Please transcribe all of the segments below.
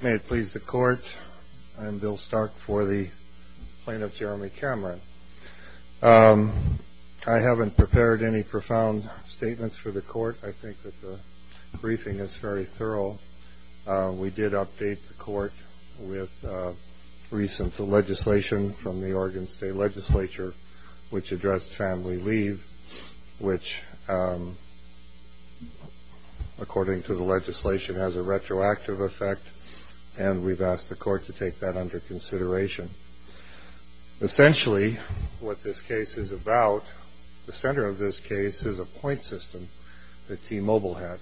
May it please the Court, I am Bill Stark for the Plaintiff, Jeremy Cameron. I haven't prepared any profound statements for the Court. I think that the briefing is very thorough. We did update the Court with recent legislation from the Oregon State Legislature which addressed family leave which, according to the legislation, has a retroactive effect. And we've asked the Court to take that under consideration. Essentially what this case is about, the center of this case is a point system that T-Mobile had.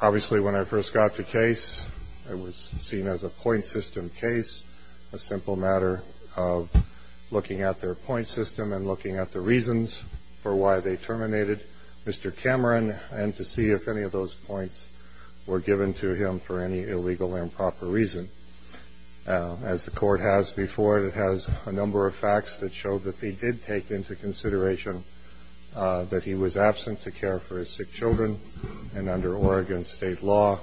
Obviously when I first got the case, it was seen as a point system case, a simple matter of looking at their point system and looking at the reasons for why they terminated Mr. Cameron and to see if any of those points were given to him for any illegal improper reason. As the Court has before it, it has a number of facts that showed that they did take into consideration that he was absent to care for his sick children. And under Oregon State law,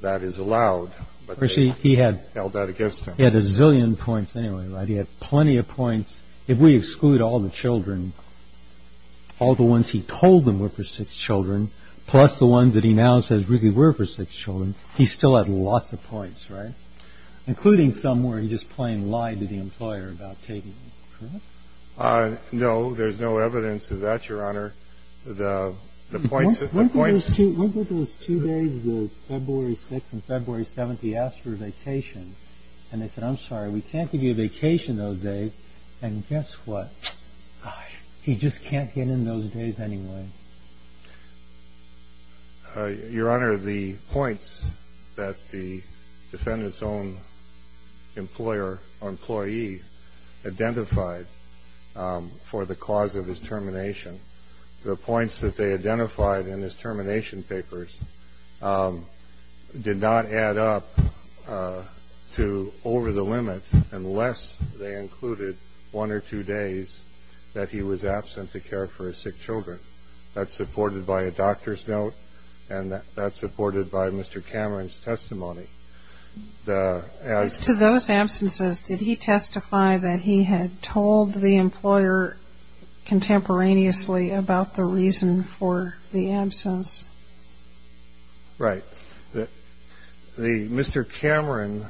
that is allowed, but they held that against him. He had a zillion points anyway, right? He had plenty of points. If we exclude all the children, all the ones he told them were for sick children, plus the ones that he now says really were for sick children, he still had lots of points, right? Including some where he just plain lied to the employer about taking them, correct? No. There's no evidence of that, Your Honor. The points that the points that the points that the defendant's own employer or employee identified for the cause of his termination, the points that they identified in his termination papers did not add up to over the limit unless they included one or two days that he was absent to care for his sick children. That's supported by a doctor's note, and that's supported by Mr. Cameron's testimony. As to those absences, did he testify that he had told the employer contemporaneously about the reason for the absence? Right. The Mr. Cameron,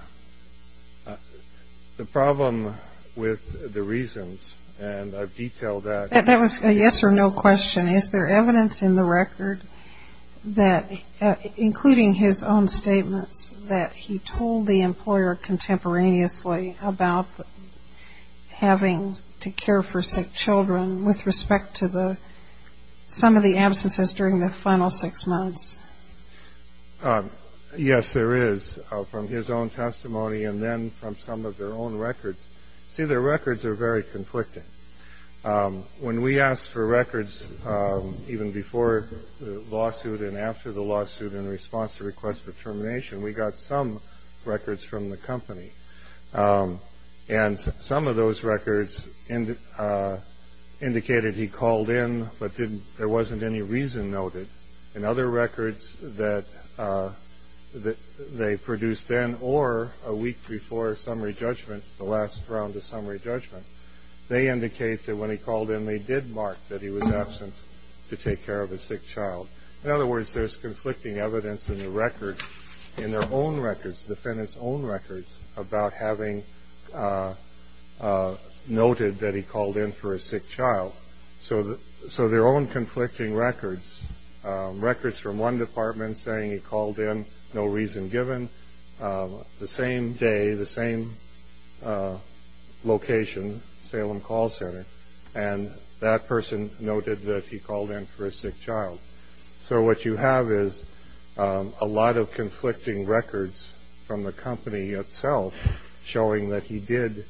the problem with the reasons, and I've detailed that. That was a yes or no question. Is there evidence in the record that, including his own statements, that he told the employer contemporaneously about having to care for sick children with respect to some of the absences during the final six months? Yes, there is, from his own testimony and then from some of their own records. See, their records are very conflicting. When we asked for records even before the lawsuit and after the lawsuit in response to request for termination, we got some records from the company. And some of those records indicated he called in, but there wasn't any reason noted. And other records that they produced then or a week before summary judgment, the last round of summary judgment, they indicate that when he called in, they did mark that he was absent to take care of his sick child. In other words, there's conflicting evidence in the record, in their own records, the defendant's own records, about having noted that he called in for a sick child. So their own conflicting records, records from one department saying he called in, no reason given, the same day, the same location, Salem Call Center, and that person noted that he called in for a sick child. So what you have is a lot of conflicting records from the company itself showing that he did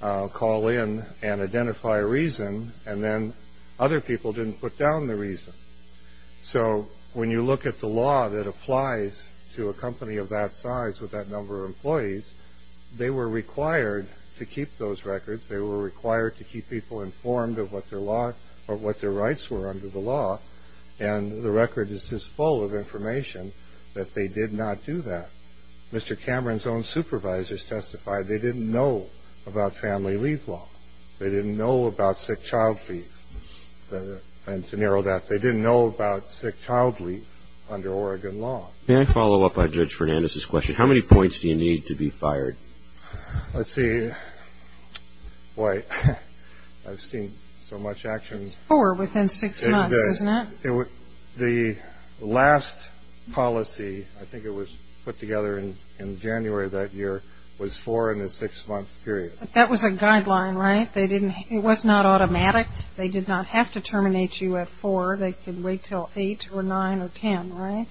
call in and identify a reason, and then other people didn't put down the reason. So when you look at the law that applies to a company of that size with that number of employees, they were required to keep those records. They were required to keep people informed of what their rights were under the law, and the record is just full of information that they did not do that. Mr. Cameron's own supervisors testified they didn't know about family leave law. They didn't know about sick child leave. And to narrow that, they didn't know about sick child leave under Oregon law. May I follow up on Judge Fernandez's question? How many points do you need to be fired? Let's see. Boy, I've seen so much action. It's four within six months, isn't it? The last policy, I think it was put together in January of that year, was four in a six-month period. That was a guideline, right? It was not automatic. They did not have to terminate you at four. They could wait until eight or nine or ten, right?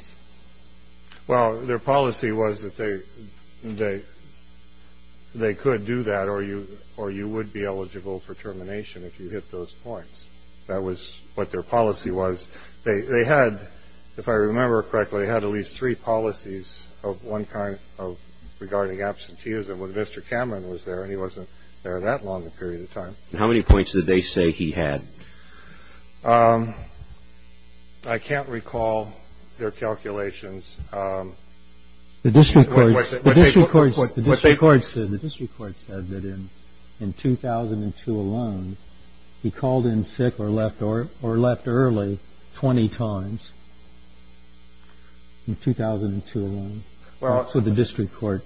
Well, their policy was that they could do that or you would be eligible for termination if you hit those points. That was what their policy was. They had, if I remember correctly, they had at least three policies of one kind regarding absenteeism when Mr. Cameron was there and he wasn't there that long a period of time. How many points did they say he had? I can't recall their calculations. The district court said that in 2002 alone, he called in sick or left early 20 times in 2002 alone. So the district court,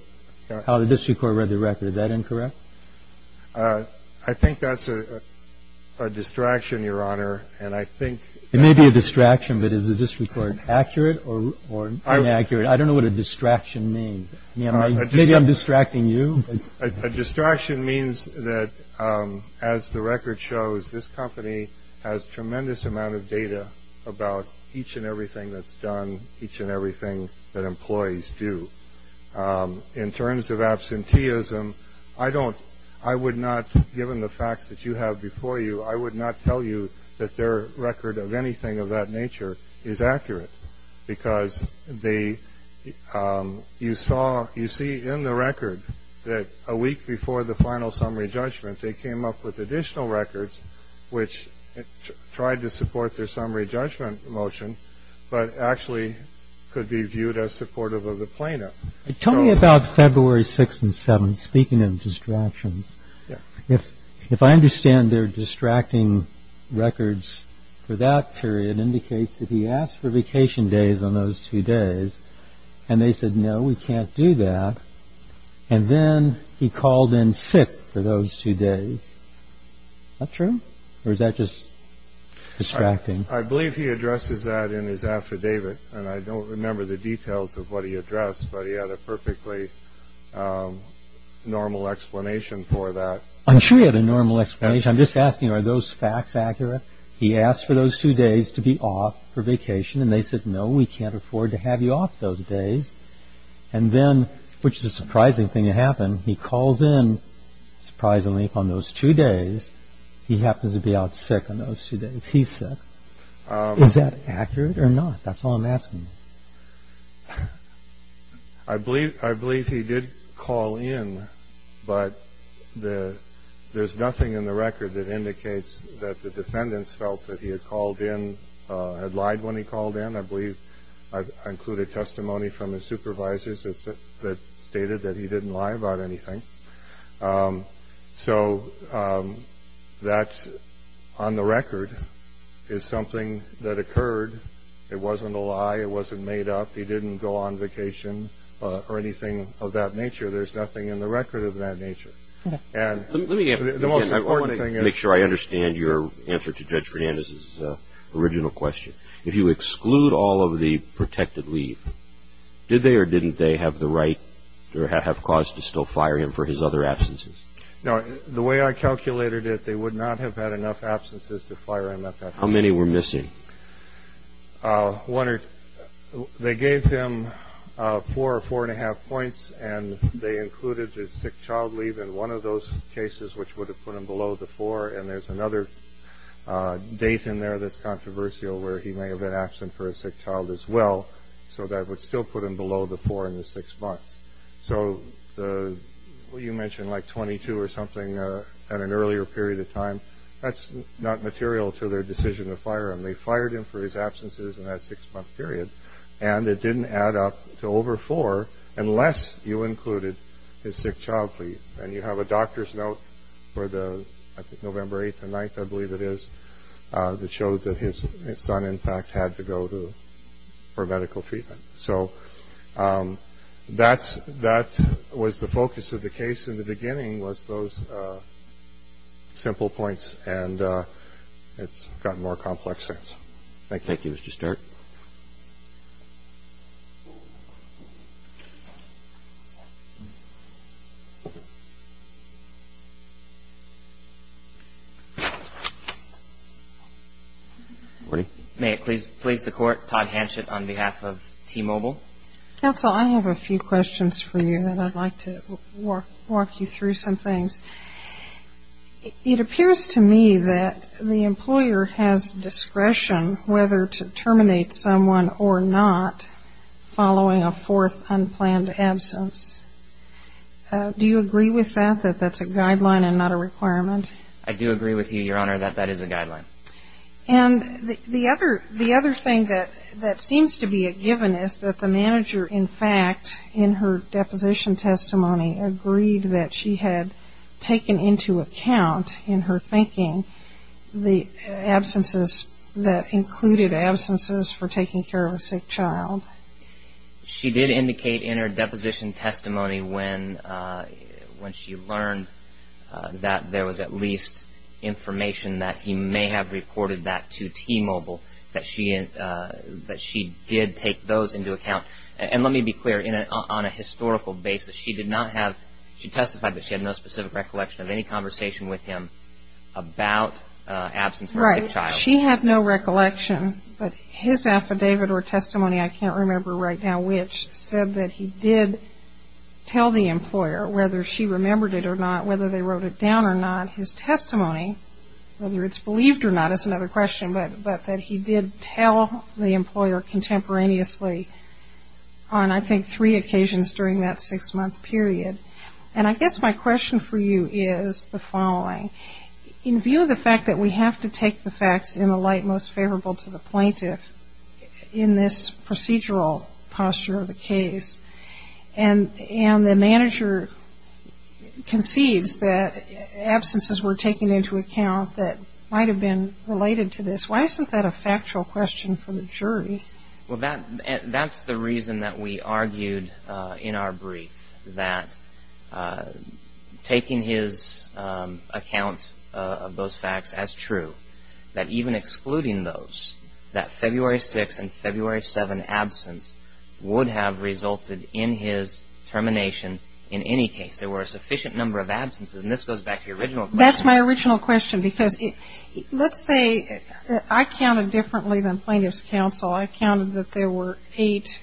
how the district court read the record, is that incorrect? I think that's a distraction, Your Honor. And I think it may be a distraction, but is the district court accurate or inaccurate? I don't know what a distraction means. Maybe I'm distracting you. A distraction means that, as the record shows, this company has tremendous amount of data about each and everything that's done, each and everything that employees do. In terms of absenteeism, I don't, I would not, given the facts that you have before you, I would not tell you that their record of anything of that nature is accurate because they, you saw, you see in the record that a week before the final summary judgment, they came up with additional records which tried to support their summary judgment motion but actually could be viewed as supportive of the plaintiff. Tell me about February 6th and 7th, speaking of distractions. If I understand, their distracting records for that period indicates that he asked for vacation days on those two days and they said, no, we can't do that. And then he called in sick for those two days. Is that true or is that just distracting? I believe he addresses that in his affidavit. And I don't remember the details of what he addressed, but he had a perfectly normal explanation for that. I'm sure he had a normal explanation. I'm just asking, are those facts accurate? He asked for those two days to be off for vacation and they said, no, we can't afford to have you off those days. And then, which is a surprising thing to happen, he calls in, surprisingly, on those two days. He happens to be out sick on those two days. He's sick. Is that accurate or not? That's all I'm asking. I believe he did call in, but there's nothing in the record that indicates that the defendants felt that he had called in, had lied when he called in. I believe I included testimony from his supervisors that stated that he didn't lie about anything. So that, on the record, is something that occurred. It wasn't a lie. It wasn't made up. He didn't go on vacation or anything of that nature. There's nothing in the record of that nature. And the most important thing is- Let me make sure I understand your answer to Judge Fernandez's original question. If you exclude all of the protected leave, did they or didn't they have the right or have cause to still fire him for his other absences? No. The way I calculated it, they would not have had enough absences to fire him. How many were missing? One or- They gave him four or four and a half points and they included his sick child leave in one of those cases, which would have put him below the four. And there's another date in there that's controversial where he may have been absent for a sick child as well. So that would still put him below the four in the six months. So you mentioned like 22 or something at an earlier period of time. That's not material to their decision to fire him. They fired him for his absences in that six-month period. And it didn't add up to over four unless you included his sick child leave. And you have a doctor's note for the, I think, November 8th and 9th, I believe it is, that shows that his son, in fact, had to go for medical treatment. So that was the focus of the case in the beginning was those simple points. And it's gotten more complex since. If I could give us the start. May it please the Court, Todd Hanchett on behalf of T-Mobile. Counsel, I have a few questions for you that I'd like to walk you through some things. It appears to me that the employer has discretion whether to terminate someone or not following a fourth unplanned absence. Do you agree with that, that that's a guideline and not a requirement? I do agree with you, Your Honor, that that is a guideline. And the other thing that seems to be a given is that the manager, in fact, in her deposition testimony agreed that she had taken into account in her thinking the absences that included absences for taking care of a sick child. She did indicate in her deposition testimony when she learned that there was at least information that he may have reported that to T-Mobile, that she did take those into account. And let me be clear, on a historical basis, she did not have, she testified that she had no specific recollection of any conversation with him about absence for a sick child. Right. She had no recollection, but his affidavit or testimony, I can't remember right now, which said that he did tell the employer whether she remembered it or not, whether they wrote it down or not, his testimony, whether it's believed or not is another question, but that he did tell the employer contemporaneously on, I think, three occasions during that six-month period. And I guess my question for you is the following. In view of the fact that we have to take the facts in the light most favorable to the plaintiff in this procedural posture of the case, and the manager concedes that absences were taken into account that might have been related to this, why isn't that a factual question for the jury? Well, that's the reason that we argued in our brief that taking his account of those facts as true, that even excluding those, that February 6th and February 7th absence would have resulted in his termination in any case. There were a sufficient number of absences, and this goes back to your original question. Because let's say I counted differently than plaintiff's counsel. I counted that there were eight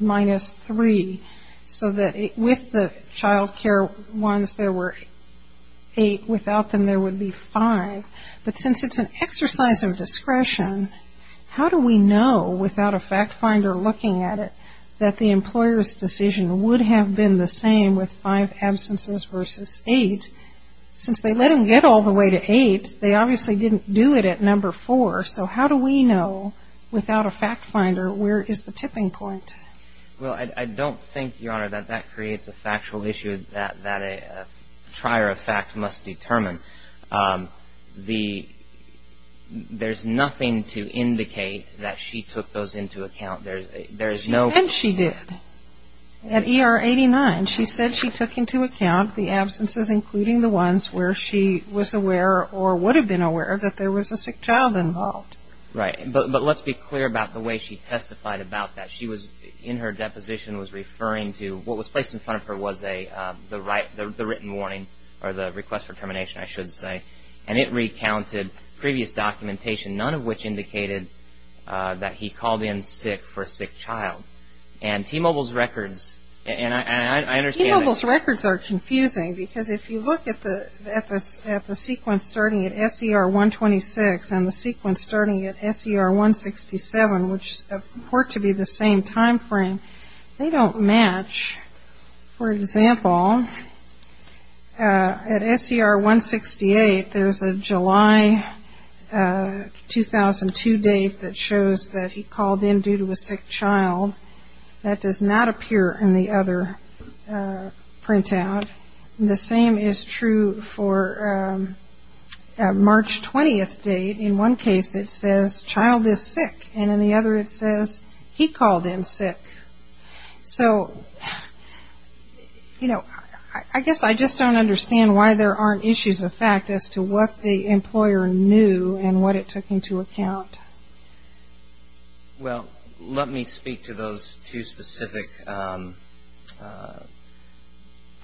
minus three, so that with the child care ones there were eight, without them there would be five. But since it's an exercise of discretion, how do we know without a fact finder looking at it that the employer's decision would have been the same with five they obviously didn't do it at number four. So how do we know without a fact finder where is the tipping point? Well, I don't think, Your Honor, that that creates a factual issue that a trier of fact must determine. There's nothing to indicate that she took those into account. She said she did. At ER 89, she said she took into account the absences, including the ones where she was aware or would have been aware that there was a sick child involved. Right. But let's be clear about the way she testified about that. She was, in her deposition, was referring to what was placed in front of her was the written warning, or the request for termination, I should say. And it recounted previous documentation, none of which indicated that he called in sick for a sick child. And T-Mobile's records, and I understand that. T-Mobile's records are confusing, because if you look at the sequence starting at SER 126 and the sequence starting at SER 167, which report to be the same time frame, they don't match. For example, at SER 168, there's a July 2002 date that shows that he called in due to a sick child. That does not appear in the other printout. The same is true for a March 20th date. In one case, it says, child is sick. And in the other, it says, he called in sick. So, you know, I guess I just don't understand why there aren't issues of fact as to what the employer knew and what it took into account. Well, let me speak to those two specific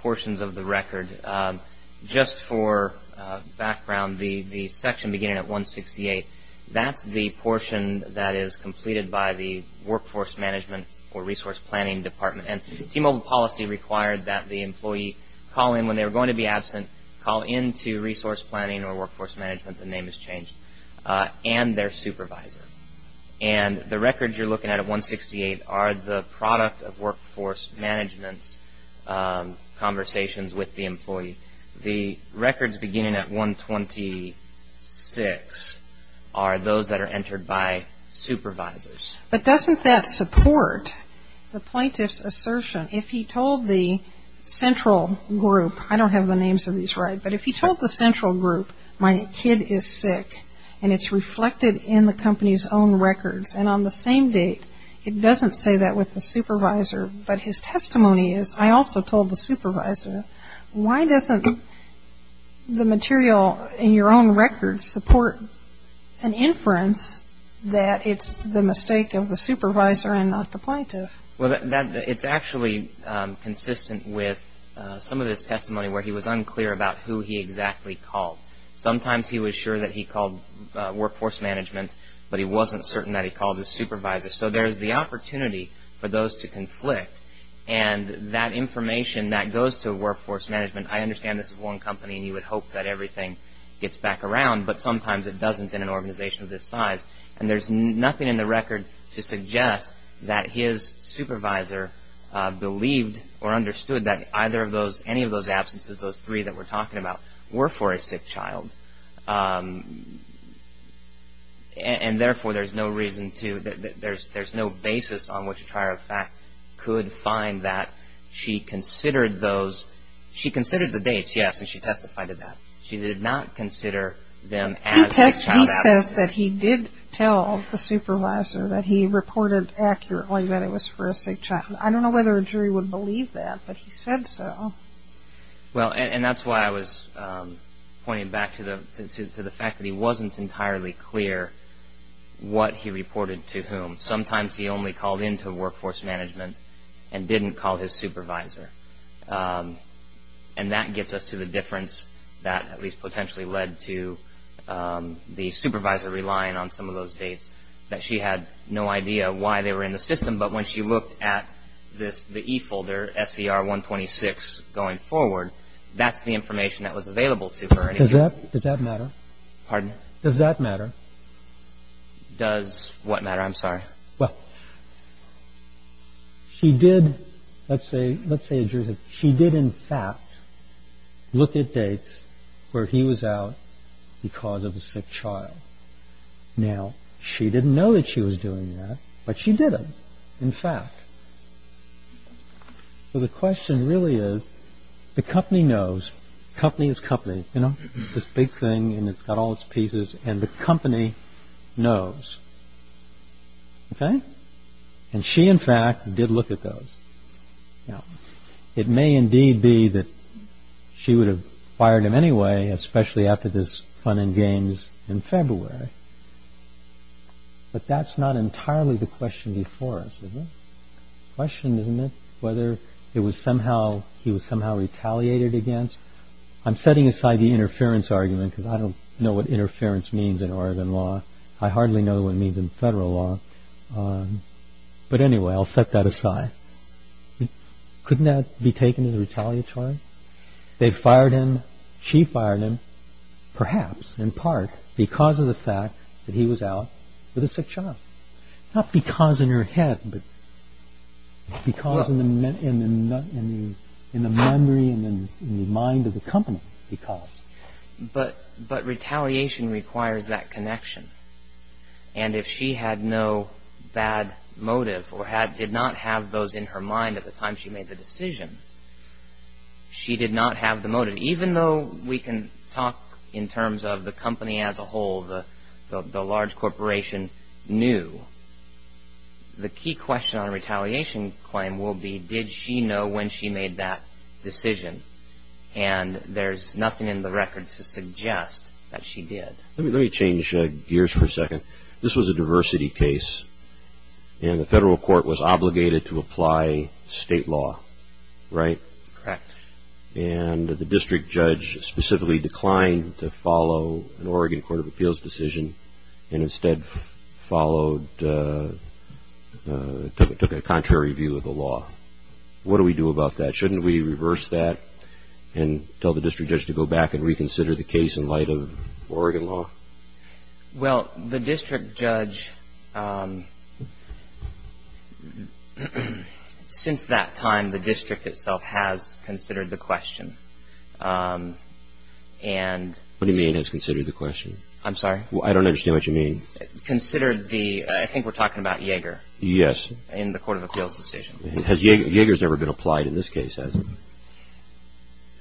portions of the record. Just for background, the section beginning at 168, that's the portion that is completed by the Workforce Management or Resource Planning Department. And T-Mobile policy required that the employee call in when they were going to be absent, call into Resource Planning or Workforce Management, the name has changed, and their supervisor. And the records you're looking at at 168 are the product of Workforce Management's conversations with the employee. The records beginning at 126 are those that are entered by supervisors. But doesn't that support the plaintiff's assertion, if he told the central group, I don't have the names of these right, but if he told the central group, my kid is sick and it's reflected in the company's own records, and on the same date it doesn't say that with the supervisor, but his testimony is, I also told the supervisor, why doesn't the material in your own records support an inference that it's the mistake of the supervisor and not the plaintiff? Well, it's actually consistent with some of his testimony where he was unclear about who he exactly called. Sometimes he was sure that he called Workforce Management, but he wasn't certain that he called his supervisor. So there's the opportunity for those to conflict, and that information that goes to Workforce Management, I understand this is one company and you would hope that everything gets back around, but sometimes it doesn't in an organization of this size. And there's nothing in the record to suggest that his supervisor believed or understood that either of those, any of those absences, those three that we're talking about, were for a sick child. And therefore, there's no reason to, there's no basis on which a trier of fact could find that she considered those, she considered the dates, yes, and she testified to that. She did not consider them as sick child absences. He says that he did tell the supervisor that he reported accurately that it was for a sick child. I don't know whether a jury would believe that, but he said so. Well, and that's why I was pointing back to the fact that he wasn't entirely clear what he reported to whom. Sometimes he only called into Workforce Management and didn't call his supervisor. And that gets us to the difference that at least potentially led to the supervisor relying on some of those dates, that she had no idea why they were in the system. But when she looked at this, the E-folder, SCR 126 going forward, that's the information that was available to her. Does that matter? Pardon? Does that matter? Does what matter? I'm sorry. Well, she did, let's say a jury, she did in fact look at dates where he was out because of a sick child. Now, she didn't know that she was doing that, but she did in fact. So the question really is, the company knows. Company is company. You know, this big thing and it's got all its pieces and the company knows. Okay? And she in fact did look at those. Now, it may indeed be that she would have fired him anyway, especially after this fun and games in February. But that's not entirely the question before us, is it? The question is whether he was somehow retaliated against. I'm setting aside the interference argument because I don't know what interference means in Oregon law. I hardly know what it means in federal law. But anyway, I'll set that aside. Couldn't that be taken as retaliatory? They fired him, she fired him, perhaps in part because of the fact that he was out with a sick child. Not because in her head, but because in the memory and in the mind of the company, because. But retaliation requires that connection. And if she had no bad motive or did not have those in her mind at the time she made the decision, she did not have the motive. Even though we can talk in terms of the company as a whole, the large corporation knew, the key question on a retaliation claim will be, did she know when she made that decision? And there's nothing in the record to suggest that she did. Let me change gears for a second. This was a diversity case, and the federal court was obligated to apply state law, right? Correct. And the district judge specifically declined to follow an Oregon Court of Appeals decision and instead followed, took a contrary view of the law. What do we do about that? Shouldn't we reverse that and tell the district judge to go back and reconsider the case in light of Oregon law? Well, the district judge, since that time, the district itself has considered the question. What do you mean has considered the question? I'm sorry? I don't understand what you mean. Considered the, I think we're talking about Yeager. Yes. In the Court of Appeals decision. Yeager's never been applied in this case, has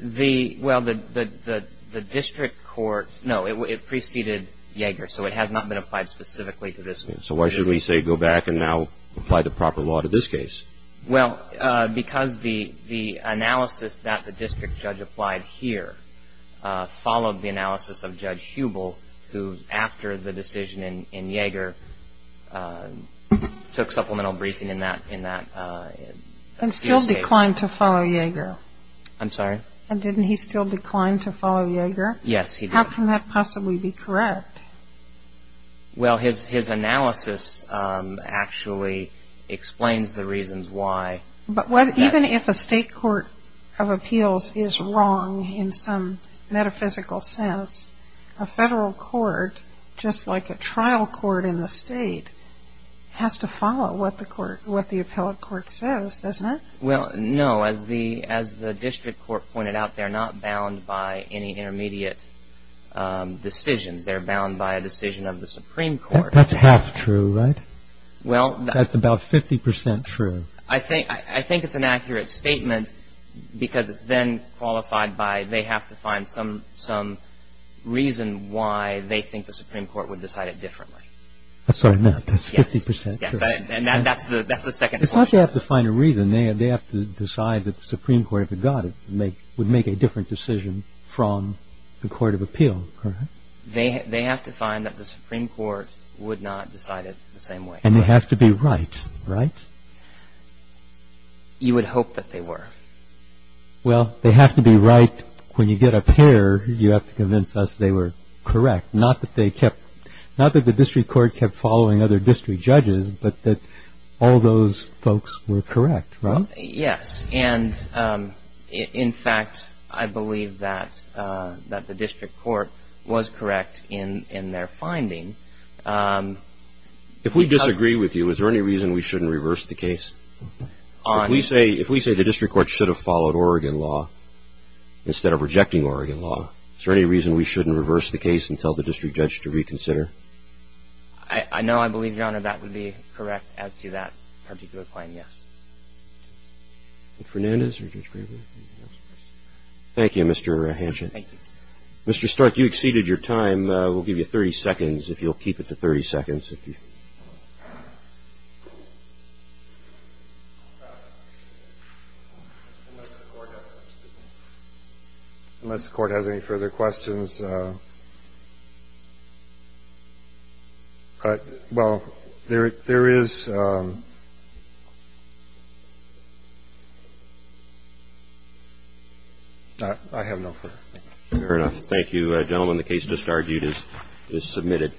he? Well, the district court, no, it preceded Yeager, so it has not been applied specifically to this case. So why should we say go back and now apply the proper law to this case? Well, because the analysis that the district judge applied here followed the analysis of Judge Hubel, who after the decision in Yeager took supplemental briefing in that case. And still declined to follow Yeager. I'm sorry? And didn't he still decline to follow Yeager? Yes, he did. How can that possibly be correct? Well, his analysis actually explains the reasons why. But even if a state court of appeals is wrong in some metaphysical sense, a federal court, just like a trial court in the state, has to follow what the appellate court says, doesn't it? Well, no. As the district court pointed out, they're not bound by any intermediate decisions. They're bound by a decision of the Supreme Court. That's half true, right? That's about 50 percent true. I think it's an accurate statement because it's then qualified by, they have to find some reason why they think the Supreme Court would decide it differently. I'm sorry, not. That's 50 percent true. Yes, and that's the second point. It's not that they have to find a reason. They have to decide that the Supreme Court, if it got it, would make a different decision from the court of appeal, correct? They have to find that the Supreme Court would not decide it the same way. And they have to be right, right? You would hope that they were. Well, they have to be right. When you get up here, you have to convince us they were correct. Not that they kept, not that the district court kept following other district judges, but that all those folks were correct, right? Yes, and in fact, I believe that the district court was correct in their finding. If we disagree with you, is there any reason we shouldn't reverse the case? If we say the district court should have followed Oregon law instead of rejecting Oregon law, is there any reason we shouldn't reverse the case and tell the district judge to reconsider? I know I believe, Your Honor, that would be correct as to that particular claim, yes. Mr. Fernandez or Judge Gravel? Thank you, Mr. Hanschen. Thank you. Mr. Stark, you exceeded your time. We'll give you 30 seconds, if you'll keep it to 30 seconds. Unless the Court has any further questions. Well, there is. I have no further. Fair enough. Thank you, gentlemen. The case, as just argued, is submitted.